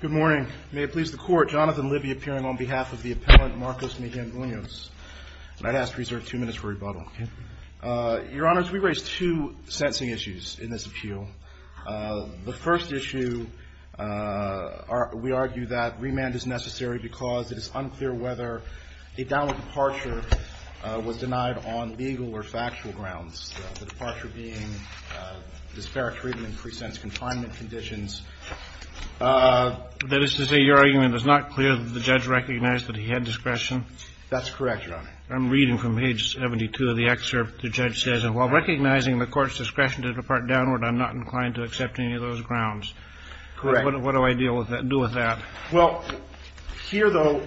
Good morning. May it please the Court, Jonathan Libby appearing on behalf of the Appellant Marcos Mejia-Munoz. And I'd ask to reserve two minutes for rebuttal, okay? Your Honors, we raise two sentencing issues in this appeal. The first issue, we argue that remand is necessary because it is unclear whether a downward departure was denied on legal or factual grounds, the departure being disparate treatment in pre-sentence confinement conditions. That is to say, your argument is not clear that the judge recognized that he had discretion? That's correct, Your Honor. I'm reading from page 72 of the excerpt. The judge says, and while recognizing the Court's discretion to depart downward, I'm not inclined to accept any of those grounds. Correct. What do I deal with that – do with that? Well, here, though,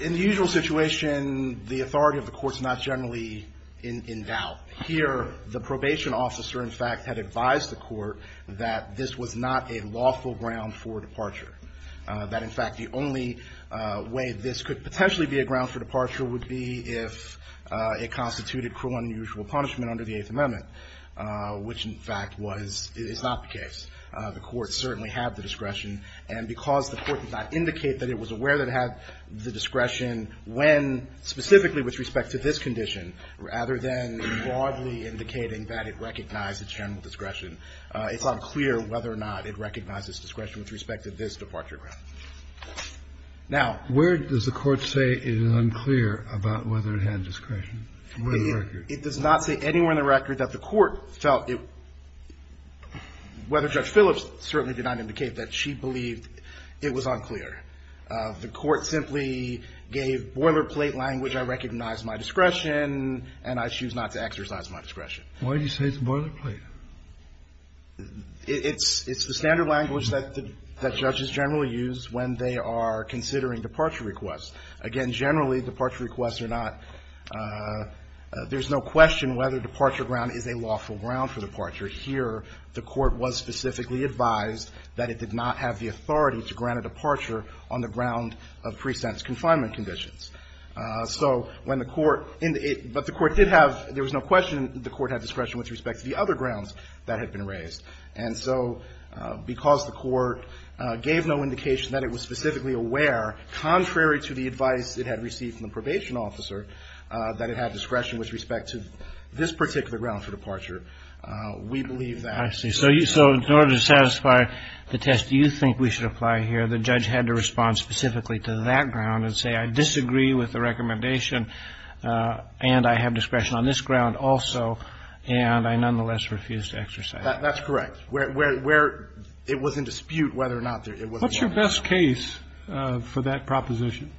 in the usual situation, the authority of the Court's not generally in doubt. Here, the probation officer, in fact, had advised the Court that this was not a lawful ground for departure. That, in fact, the only way this could potentially be a ground for departure would be if it constituted cruel and unusual punishment under the Eighth Amendment, which, in fact, was – is not the case. The Court certainly had the discretion. And because the Court did not indicate that it was aware that it had the discretion when – specifically with respect to this condition, rather than broadly indicating that it recognized its general discretion, it's unclear whether or not it recognized its discretion with respect to this departure ground. Now – Where does the Court say it is unclear about whether it had discretion? Where in the record? It does not say anywhere in the record that the Court felt it – whether Judge Phillips certainly did not indicate that she believed it was unclear. The Court simply gave boilerplate language, I recognize my discretion, and I choose not to exercise my discretion. Why do you say it's boilerplate? It's the standard language that the – that judges generally use when they are considering departure requests. Again, generally, departure requests are not – there's no question whether departure ground is a lawful ground for departure. Here, the Court was specifically advised that it did not have the authority to grant a departure on the ground of pre-sentence confinement conditions. So when the Court – but the Court did have – there was no question the Court had discretion with respect to the other grounds that had been raised. And so because the Court gave no indication that it was specifically aware, contrary to the advice it had received from the probation officer, that it had discretion with respect to this particular ground for departure, we believe that – So in order to satisfy the test do you think we should apply here, the judge had to respond specifically to that ground and say, I disagree with the recommendation, and I have discretion on this ground also, and I nonetheless refuse to exercise it. That's correct. Where – it was in dispute whether or not there – it was a boilerplate ground. What's your best case for that proposition?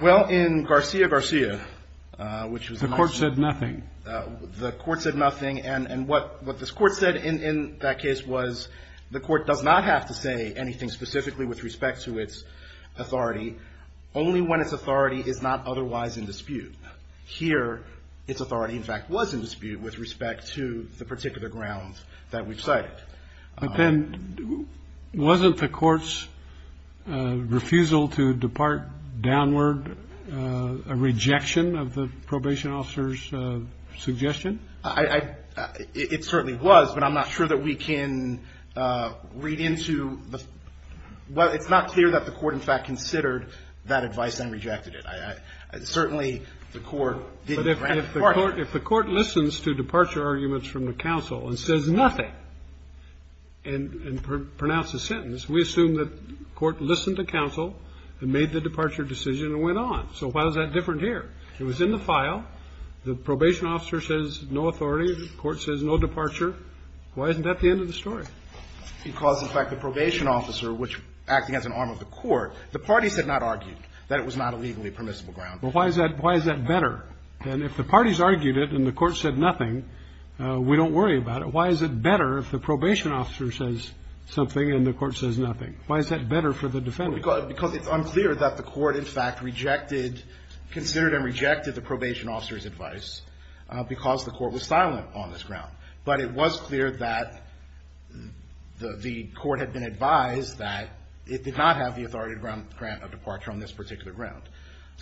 Well, in Garcia-Garcia, which was a nice case. The Court said nothing. The Court said nothing. And what this Court said in that case was the Court does not have to say anything specifically with respect to its authority, only when its authority is not otherwise in dispute. Here, its authority, in fact, was in dispute with respect to the particular grounds that we've cited. But then wasn't the Court's refusal to depart downward a rejection of the probation officer's suggestion? I – it certainly was, but I'm not sure that we can read into the – well, it's not clear that the Court, in fact, considered that advice and rejected it. I – certainly the Court didn't grant departure. If the Court listens to departure arguments from the counsel and says nothing and pronounced a sentence, we assume that the Court listened to counsel and made the departure decision and went on. So why is that different here? It was in the file. The probation officer says no authority. The Court says no departure. Why isn't that the end of the story? Because, in fact, the probation officer, which acted as an arm of the Court, the parties had not argued that it was not a legally permissible ground. Well, why is that – why is that better? And if the parties argued it and the Court said nothing, we don't worry about it. Why is it better if the probation officer says something and the Court says nothing? Why is that better for the defendant? Because it's unclear that the Court, in fact, rejected – considered and rejected the probation officer's advice because the Court was silent on this ground. But it was clear that the Court had been advised that it did not have the authority to grant a departure on this particular ground,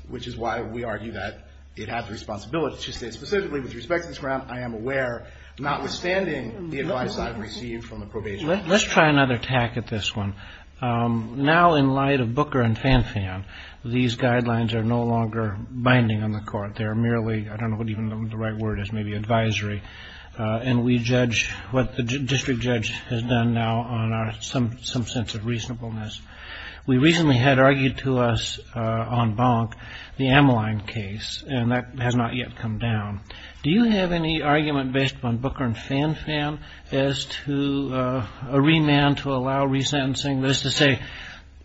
which is why we argue that it has the responsibility to say, specifically with respect to this ground, I am aware, notwithstanding the advice I've received from the probation officer. Let's try another tack at this one. Now, in light of Booker and Fanfan, these guidelines are no longer binding on the Court. They're merely – I don't know what even the right word is, maybe advisory. And we judge what the district judge has done now on our – some sense of reasonableness. We recently had argued to us on Bonk the Ameline case, and that has not yet come down. Do you have any argument based upon Booker and Fanfan as to a remand to allow resentencing? That is to say,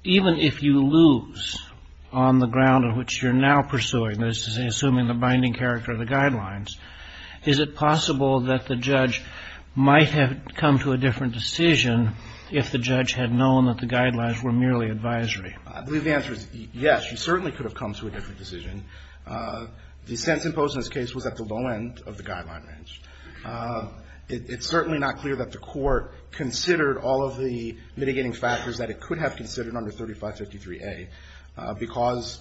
even if you lose on the ground of which you're now pursuing, that is to say, assuming the binding character of the guidelines, is it possible that the judge might have come to a different decision if the judge had known that the guidelines were merely advisory? I believe the answer is yes. You certainly could have come to a different decision. The sense imposed on this case was at the low end of the guideline range. It's certainly not clear that the Court considered all of the mitigating factors that it could have considered under 3553A, because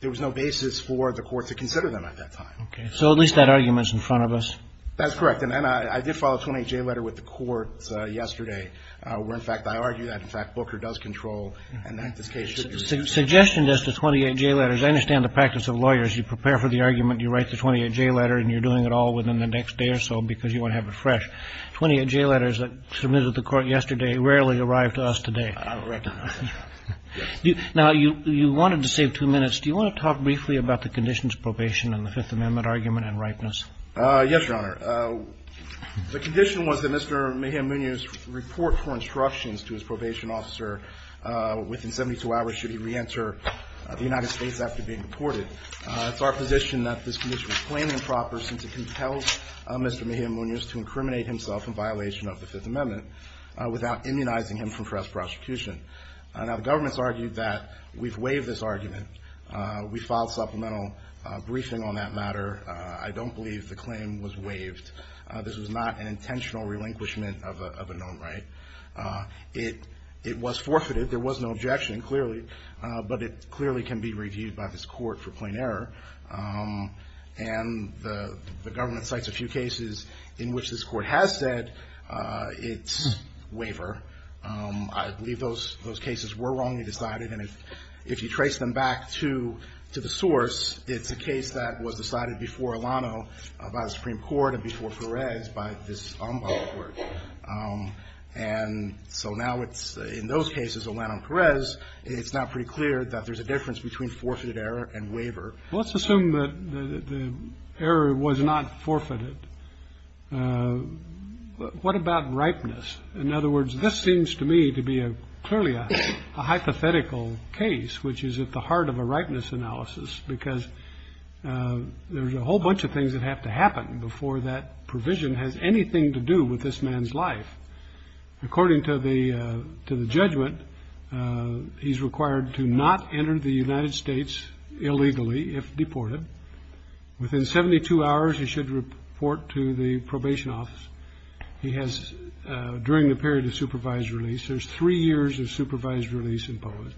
there was no basis for the Court to consider them at that time. Okay. So at least that argument's in front of us. That's correct. And I did file a 28J letter with the Court yesterday, where, in fact, I argue that, in fact, Booker does control and that this case should be I understand the practice of lawyers. You prepare for the argument, you write the 28J letter, and you're doing it all within the next day or so because you want to have it fresh. 28J letters that were submitted to the Court yesterday rarely arrive to us today. I don't recognize that. Now, you wanted to save two minutes. Do you want to talk briefly about the conditions of probation in the Fifth Amendment argument and ripeness? Yes, Your Honor. The condition was that Mr. Mahamunia's report for instructions to his probation officer within 72 hours should he reenter the United States after being deported. It's our position that this condition was plainly improper since it compels Mr. Mahamunia to incriminate himself in violation of the Fifth Amendment without immunizing him from press prosecution. Now, the government's argued that we've waived this argument. We filed supplemental briefing on that matter. I don't believe the claim was waived. This was not an intentional relinquishment of a known right. It was forfeited. There was no objection, clearly, but it clearly can be reviewed by this court for plain error, and the government cites a few cases in which this court has said it's waiver. I believe those cases were wrongly decided, and if you trace them back to the source, it's a case that was decided before Alano by the Supreme Court and before Perez by this ombudsman, and so now it's in those cases, Alano-Perez, it's now pretty clear that there's a difference between forfeited error and waiver. Let's assume that the error was not forfeited. What about ripeness? In other words, this seems to me to be clearly a hypothetical case, which is at the heart of a ripeness analysis, because there's a whole bunch of things that have to do with this man's life. According to the judgment, he's required to not enter the United States illegally if deported. Within 72 hours, he should report to the probation office. He has, during the period of supervised release, there's three years of supervised release imposed.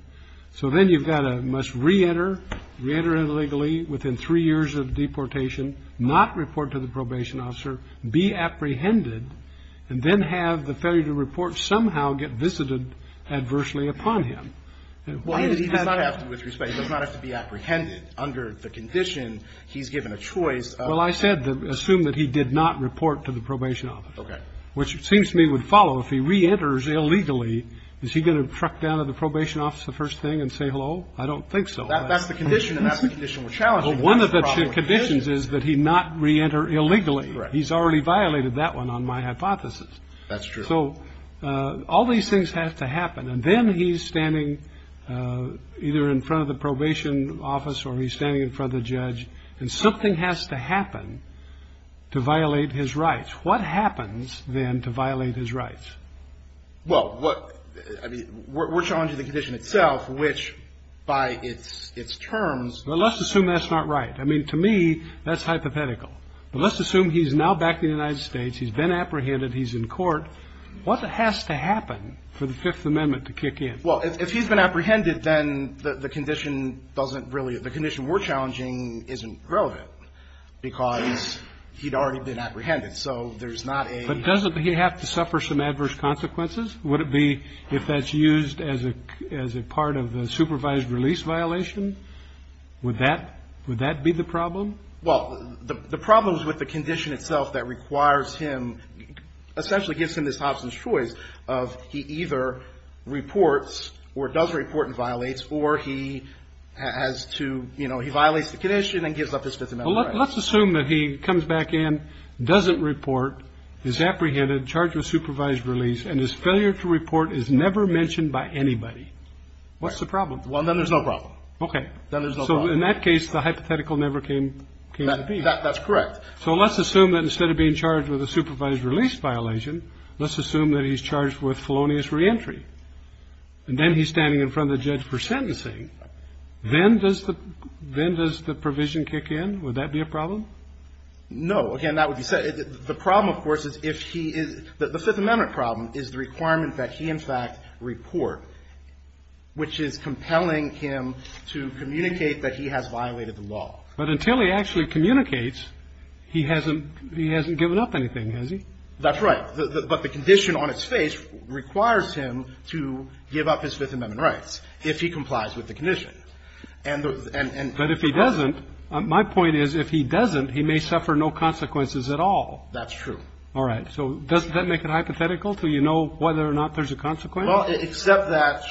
So then you've got a must reenter, reenter illegally within three years of deportation, not report to the probation officer, be apprehended, and then have the failure to report somehow get visited adversely upon him. Why did he have to? He does not have to be apprehended under the condition he's given a choice. Well, I said assume that he did not report to the probation office, which it seems to me would follow. If he reenters illegally, is he going to truck down to the probation office the first thing and say hello? I don't think so. That's the condition, and that's the condition we're challenging. One of the conditions is that he not reenter illegally. He's already violated that one on my hypothesis. That's true. So all these things have to happen, and then he's standing either in front of the probation office or he's standing in front of the judge, and something has to happen to violate his rights. What happens then to violate his rights? Well, I mean, we're challenging the condition itself, which by its terms- Well, let's assume that's not right. I mean, to me, that's hypothetical. But let's assume he's now back in the United States. He's been apprehended. He's in court. What has to happen for the Fifth Amendment to kick in? Well, if he's been apprehended, then the condition doesn't really-the condition we're challenging isn't relevant because he'd already been apprehended. So there's not a- But doesn't he have to suffer some adverse consequences? Would it be if that's used as a part of the supervised release violation? Would that be the problem? Well, the problem is with the condition itself that requires him-essentially gives him this option of choice of he either reports or does report and violates or he has to-you know, he violates the condition and gives up his Fifth Amendment rights. Well, let's assume that he comes back in, doesn't report, is apprehended, charged with supervised release, and his failure to report is never mentioned by anybody. What's the problem? Well, then there's no problem. Okay. So in that case, the hypothetical never came to be. That's correct. So let's assume that instead of being charged with a supervised release violation, let's assume that he's charged with felonious reentry. And then he's standing in front of the judge for sentencing. Then does the-then does the provision kick in? Would that be a problem? No. Again, that would be-the problem, of course, is if he is-the Fifth Amendment problem is the requirement that he, in fact, report, which is compelling him to communicate that he has violated the law. But until he actually communicates, he hasn't-he hasn't given up anything, has he? That's right. But the condition on its face requires him to give up his Fifth Amendment rights if he complies with the condition. And the-and-and- But if he doesn't, my point is if he doesn't, he may suffer no consequences at all. That's true. All right. So doesn't that make it hypothetical, so you know whether or not there's a consequence? Well, except that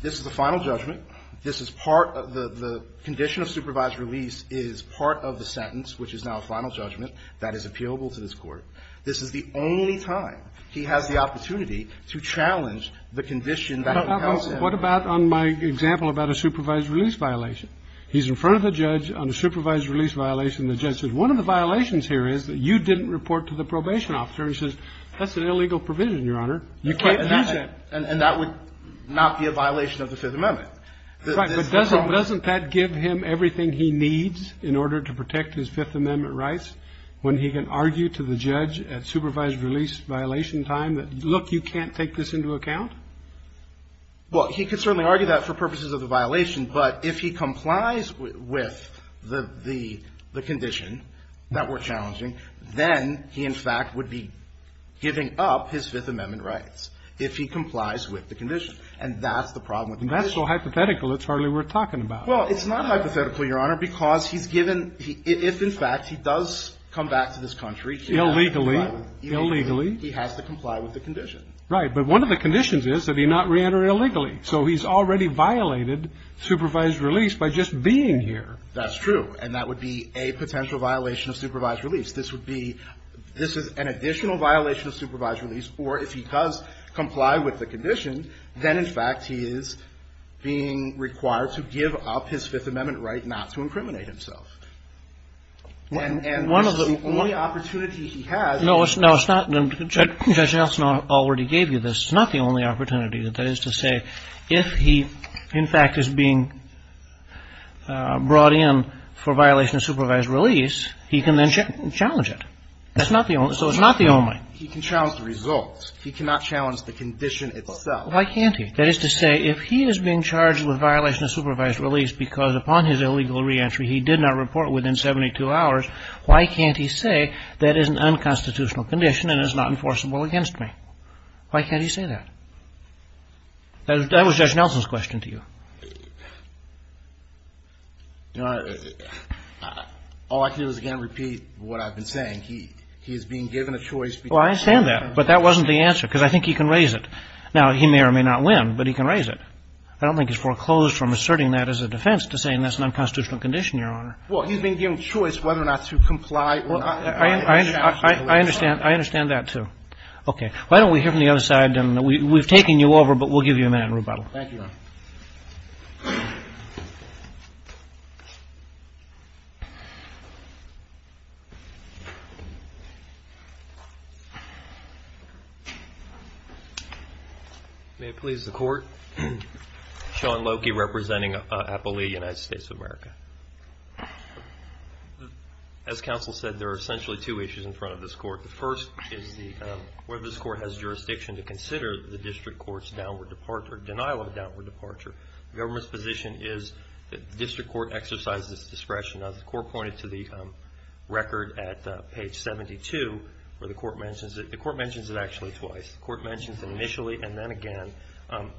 this is a final judgment. This is part of the-the condition of supervised release is part of the sentence, which is now a final judgment, that is appealable to this Court. This is the only time he has the opportunity to challenge the condition that compels him. What about on my example about a supervised release violation? He's in front of the judge on a supervised release violation. And the judge says, one of the violations here is that you didn't report to the probation officer. And he says, that's an illegal provision, Your Honor. You can't use that. And that would not be a violation of the Fifth Amendment. That's right. But doesn't-doesn't that give him everything he needs in order to protect his Fifth Amendment rights when he can argue to the judge at supervised release violation time that, look, you can't take this into account? Well, he could certainly argue that for purposes of the violation. But if he complies with the-the condition that we're challenging, then he, in fact, would be giving up his Fifth Amendment rights if he complies with the condition. And that's the problem with the condition. And that's so hypothetical, it's hardly worth talking about. Well, it's not hypothetical, Your Honor, because he's given the – if, in fact, he does come back to this country, he has to comply with the condition. Illegally, illegally. He has to comply with the condition. Right. But one of the conditions is that he not reenter illegally. So he's already violated supervised release by just being here. That's true. And that would be a potential violation of supervised release. This would be – this is an additional violation of supervised release. Or if he does comply with the condition, then, in fact, he is being required to give up his Fifth Amendment right not to incriminate himself. And-and this is the only opportunity he has. No, it's – no, it's not – Judge Nelson already gave you this. It's not the only opportunity. That is to say, if he, in fact, is being brought in for violation of supervised release, he can then challenge it. That's not the only – so it's not the only. He can challenge the results. He cannot challenge the condition itself. Why can't he? That is to say, if he is being charged with violation of supervised release because upon his illegal reentry he did not report within 72 hours, why can't he say that is an unconstitutional condition and is not enforceable against me? Why can't he say that? That was Judge Nelson's question to you. You know, all I can do is, again, repeat what I've been saying. He – he is being given a choice. Well, I understand that. But that wasn't the answer because I think he can raise it. Now, he may or may not win, but he can raise it. I don't think he's foreclosed from asserting that as a defense to saying that's an unconstitutional condition, Your Honor. Well, he's being given a choice whether or not to comply or not. I understand – I understand that, too. Okay. Why don't we hear from the other side? And we've taken you over, but we'll give you a minute in rebuttal. Thank you, Your Honor. May it please the Court? Sean Loki, representing Appalachia, United States of America. As counsel said, there are essentially two issues in front of this Court. The first is the – whether this Court has jurisdiction to consider the district court's downward departure – denial of a downward departure. The government's position is that the district court exercises its discretion. Now, as the Court pointed to the record at page 72, where the Court mentions it, the Court mentions it actually twice. The Court mentions it initially and then again.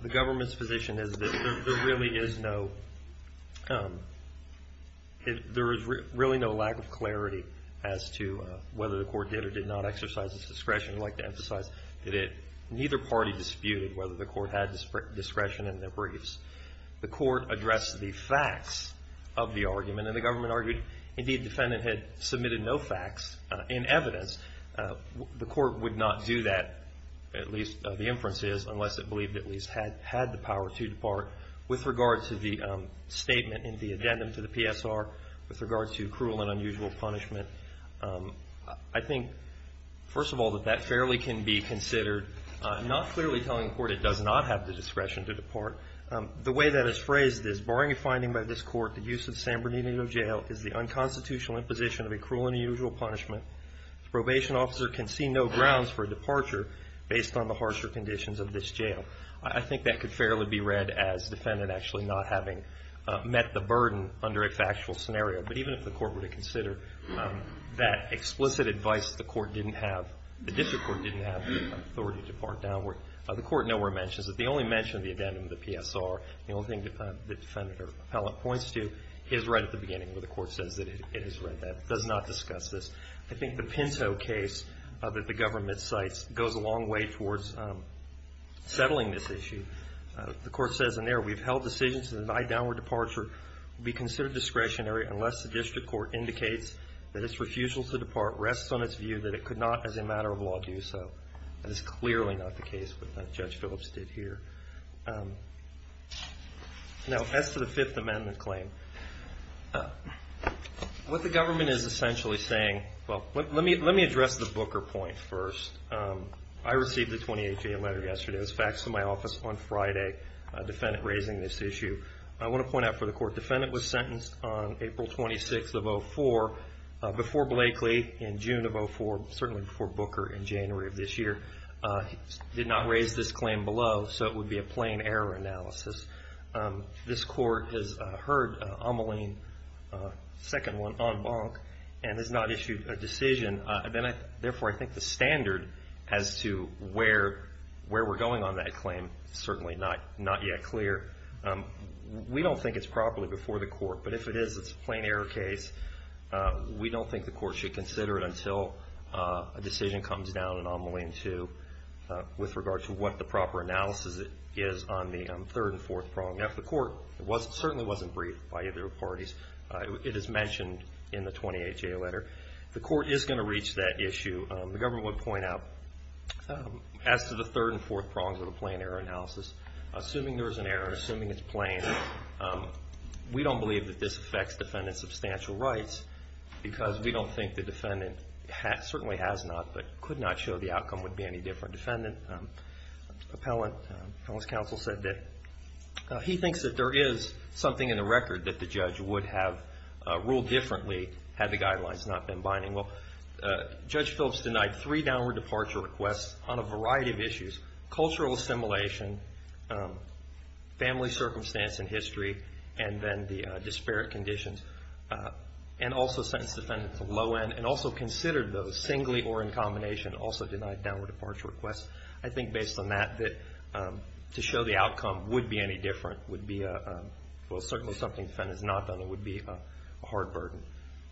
The government's position is that there really is no – does not exercise its discretion. I'd like to emphasize that it – neither party disputed whether the Court had discretion in their briefs. The Court addressed the facts of the argument, and the government argued, indeed, the defendant had submitted no facts and evidence. The Court would not do that, at least the inference is, unless it believed it at least had the power to depart. With regard to the statement in the addendum to the PSR, with regard to cruel and unusual punishment, I think, first of all, that that fairly can be considered. I'm not clearly telling the Court it does not have the discretion to depart. The way that it's phrased is, barring a finding by this Court, the use of San Bernardino Jail is the unconstitutional imposition of a cruel and unusual punishment. A probation officer can see no grounds for a departure based on the harsher conditions of this jail. I think that could fairly be read as defendant actually not having met the burden under a factual scenario. But even if the Court were to consider that explicit advice that the Court didn't have, the district court didn't have the authority to depart downward, the Court nowhere mentions it. They only mention the addendum to the PSR. The only thing the defendant or appellant points to is right at the beginning where the Court says that it has read that. Does not discuss this. I think the Pinto case that the government cites goes a long way towards settling this issue. The Court says in there, we've held decisions that an I-Downward departure be considered discretionary unless the district court indicates that its refusal to depart rests on its view that it could not, as a matter of law, do so. That is clearly not the case with what Judge Phillips did here. Now, as to the Fifth Amendment claim, what the government is essentially saying, well, let me address the Booker point first. I received a 2018 letter yesterday. It was faxed to my office on Friday, a defendant raising this issue. I want to point out for the Court, the defendant was sentenced on April 26th of 2004 before Blakely in June of 2004, certainly before Booker in January of this year. Did not raise this claim below, so it would be a plain error analysis. This Court has heard Ameline, second one, on Bonk, and has not issued a decision. Then I, therefore, I think the standard as to where we're going on that claim is certainly not yet clear. We don't think it's properly before the Court, but if it is, it's a plain error case. We don't think the Court should consider it until a decision comes down in Ameline to, with regard to what the proper analysis is on the third and fourth prong. Now, if the Court, it certainly wasn't briefed by either parties. It is mentioned in the 2018 letter. The Court is going to reach that issue. The government would point out, as to the third and fourth prongs of the plain error analysis, assuming there is an error, assuming it's plain. We don't believe that this affects defendant's substantial rights, because we don't think the defendant, certainly has not, but could not show the outcome would be any different. Defendant, appellant, appellant's counsel said that he thinks that there is something in the record that the judge would have ruled differently had the guidelines not been binding. Well, Judge Phillips denied three downward departure requests on a variety of issues. Cultural assimilation, family circumstance and history, and then the disparate conditions, and also sentenced the defendant to low end, and also considered those singly or in combination, also denied downward departure requests. I think based on that, that to show the outcome would be any different, would be a, well, certainly something the defendant has not done, it would be a hard burden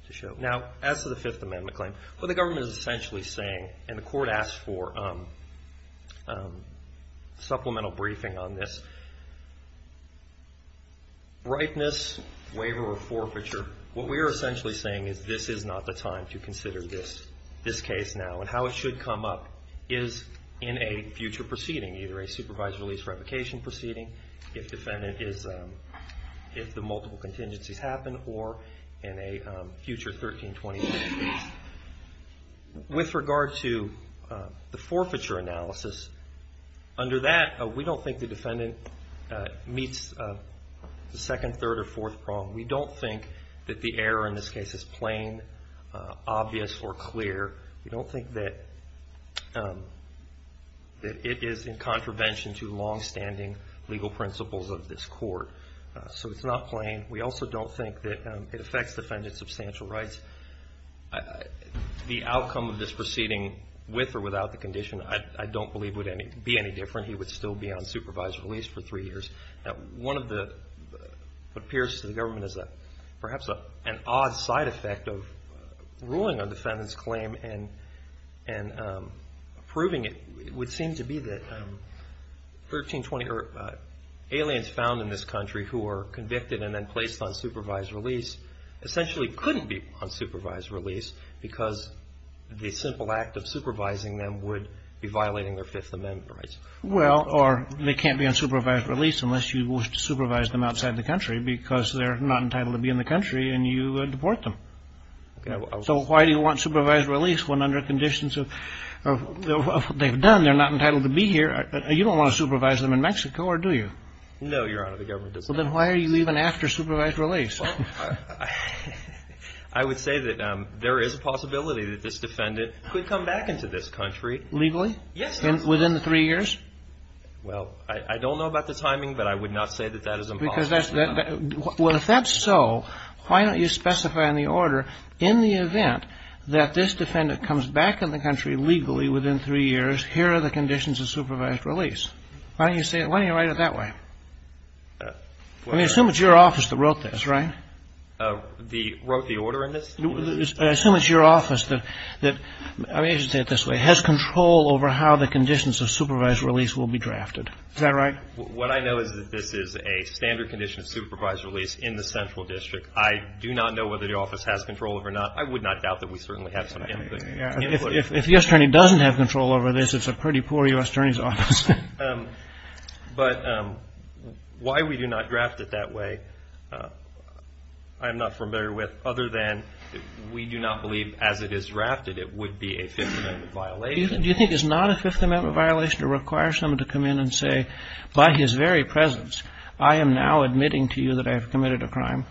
to show. Now, as to the Fifth Amendment claim, what the government is essentially saying, and the court asked for supplemental briefing on this, ripeness, waiver or forfeiture, what we are essentially saying is this is not the time to consider this case now, and how it should come up is in a future proceeding, either a supervised release revocation proceeding, if the multiple contingencies happen, or in a future 1326 case. With regard to the forfeiture analysis, under that, we don't think the defendant meets the second, third or fourth prong. We don't think that the error in this case is plain, obvious or clear. We don't think that it is in contravention to long-standing legal principles of this court. So it's not plain. We also don't think that it affects the defendant's substantial rights. The outcome of this proceeding, with or without the condition, I don't believe would be any different. He would still be on supervised release for three years. Now, one of the, what appears to the government as a, perhaps an odd side effect of ruling a defendant's claim and approving it, would seem to be that aliens found in this country who are convicted and then placed on supervised release, essentially couldn't be on supervised release because the simple act of supervising them would be violating their Fifth Amendment rights. Well, or they can't be on supervised release unless you supervise them outside the country because they're not entitled to be in the country and you deport them. So why do you want supervised release when under conditions of what they've done, they're not entitled to be here, you don't want to supervise them in Mexico, or do you? No, Your Honor, the government does not. Well, then why are you even after supervised release? Well, I would say that there is a possibility that this defendant could come back into this country. Legally? Yes, Your Honor. Within the three years? Well, I don't know about the timing, but I would not say that that is impossible. Well, if that's so, why don't you specify in the order, in the event that this defendant comes back in the country legally within three years, here are the conditions of supervised release. Why don't you say it, why don't you write it that way? I mean, assume it's your office that wrote this, right? Wrote the order in this? Assume it's your office that, I mean, I should say it this way, has control over how the conditions of supervised release will be drafted. Is that right? What I know is that this is a standard condition of supervised release in the central district. I do not know whether the office has control over it or not. I would not doubt that we certainly have some input. If the U.S. Attorney doesn't have control over this, it's a pretty poor U.S. Attorney's office. But why we do not draft it that way, I'm not familiar with, other than we do not believe as it is drafted it would be a Fifth Amendment violation. Do you think it's not a Fifth Amendment violation to require someone to come in and say, by his very presence, I am now admitting to you that I have committed a crime?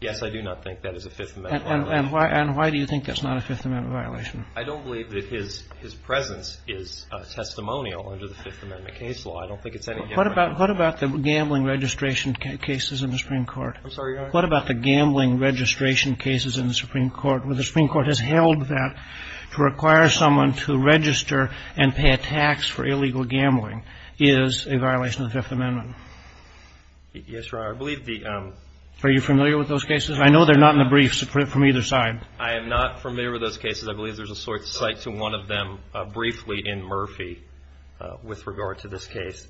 Yes, I do not think that is a Fifth Amendment violation. And why do you think that's not a Fifth Amendment violation? I don't believe that his presence is testimonial under the Fifth Amendment case law. I don't think it's any gambling violation. What about the gambling registration cases in the Supreme Court? I'm sorry, Your Honor? What about the gambling registration cases in the Supreme Court, where the Supreme Court has held that to require someone to register and pay a tax for illegal gambling is a violation of the Fifth Amendment? Yes, Your Honor, I believe the ---- Are you familiar with those cases? I know they're not in the briefs from either side. I am not familiar with those cases. I believe there's a cite to one of them briefly in Murphy with regard to this case,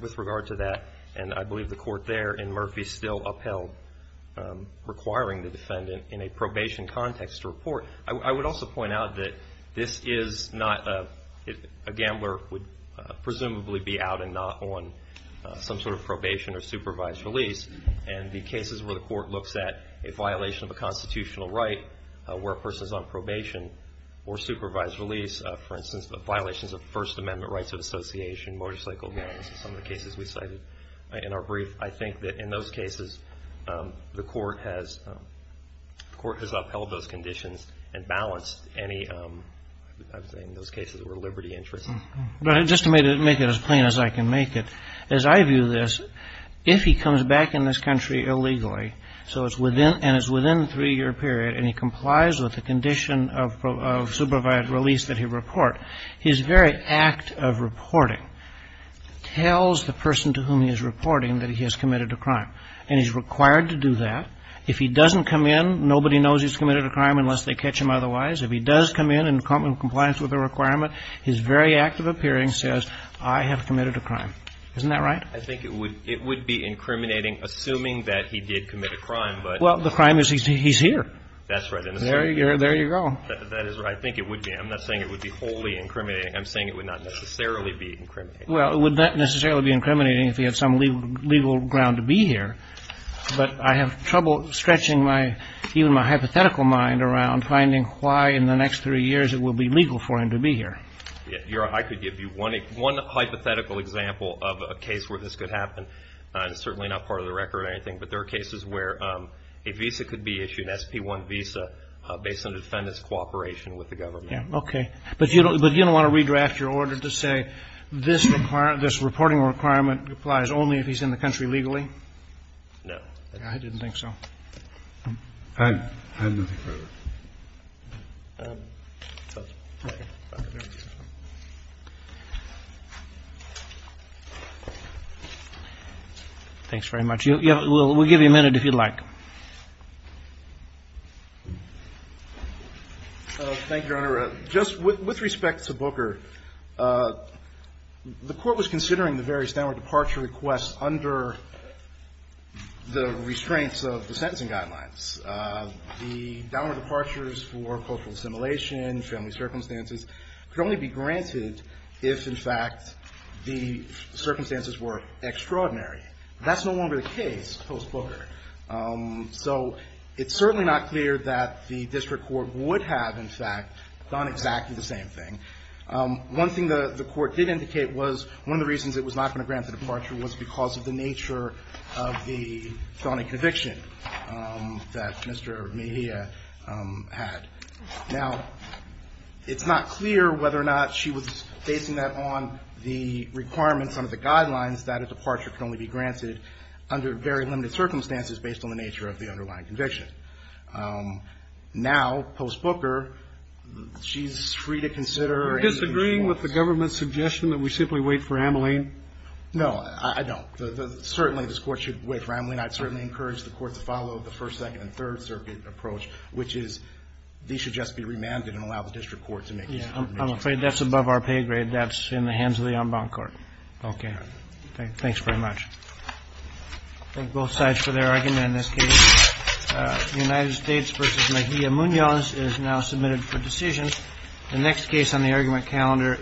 with regard to that. And I believe the court there in Murphy still upheld requiring the defendant in a probation context to report. I would also point out that this is not a gambler would presumably be out and not on some sort of probation or supervised release. And the cases where the court looks at a violation of a constitutional right where a person is on probation or supervised release, for instance, the violations of First Amendment rights of association, motorcycle violence, some of the cases we cited in our brief, I think that in those cases the court has upheld those conditions and balanced any, I'm saying in those cases, where liberty interests. Just to make it as plain as I can make it, as I view this, if he comes back in this country illegally and is within a three-year period and he complies with the condition of supervised release that he report, his very act of reporting tells the person to whom he is reporting that he has committed a crime. And he's required to do that. If he doesn't come in, nobody knows he's committed a crime unless they catch him otherwise. If he does come in in compliance with the requirement, his very act of appearing says, I have committed a crime. Isn't that right? I think it would be incriminating, assuming that he did commit a crime. Well, the crime is he's here. That's right. There you go. I think it would be. I'm not saying it would be wholly incriminating. I'm saying it would not necessarily be incriminating. Well, it would not necessarily be incriminating if he had some legal ground to be here. But I have trouble stretching even my hypothetical mind around finding why in the next three years it will be legal for him to be here. I could give you one hypothetical example of a case where this could happen. It's certainly not part of the record or anything, but there are cases where a visa could be issued, an SP-1 visa, based on the defendant's cooperation with the government. Okay. But you don't want to redraft your order to say this reporting requirement applies only if he's in the country legally? No. I didn't think so. I have nothing further. Thank you. Thanks very much. We'll give you a minute if you'd like. Thank you, Your Honor. Just with respect to Booker, the court was considering the various downward departure requests under the restraints of the sentencing guidelines. The downward departures for cultural assimilation, family circumstances, could only be granted if, in fact, the circumstances were extraordinary. That's no longer the case post-Booker. So it's certainly not clear that the district court would have, in fact, done exactly the same thing. One thing the court did indicate was one of the reasons it was not going to grant the departure was because of the nature of the felony conviction that Mr. Mejia had. Now, it's not clear whether or not she was basing that on the requirements under the guidelines that a departure can only be granted under very limited circumstances based on the nature of the underlying conviction. Now, post-Booker, she's free to consider any of these points. Are you disagreeing with the government's suggestion that we simply wait for Ameline? No, I don't. Certainly, this Court should wait for Ameline. I'd certainly encourage the Court to follow the First, Second, and Third Circuit approach, which is these should just be remanded and allow the district court to make these determinations. I'm afraid that's above our pay grade. That's in the hands of the unbound court. Okay. Thanks very much. Thank both sides for their argument in this case. The United States v. Mejia Munoz is now submitted for decision. The next case on the argument calendar is...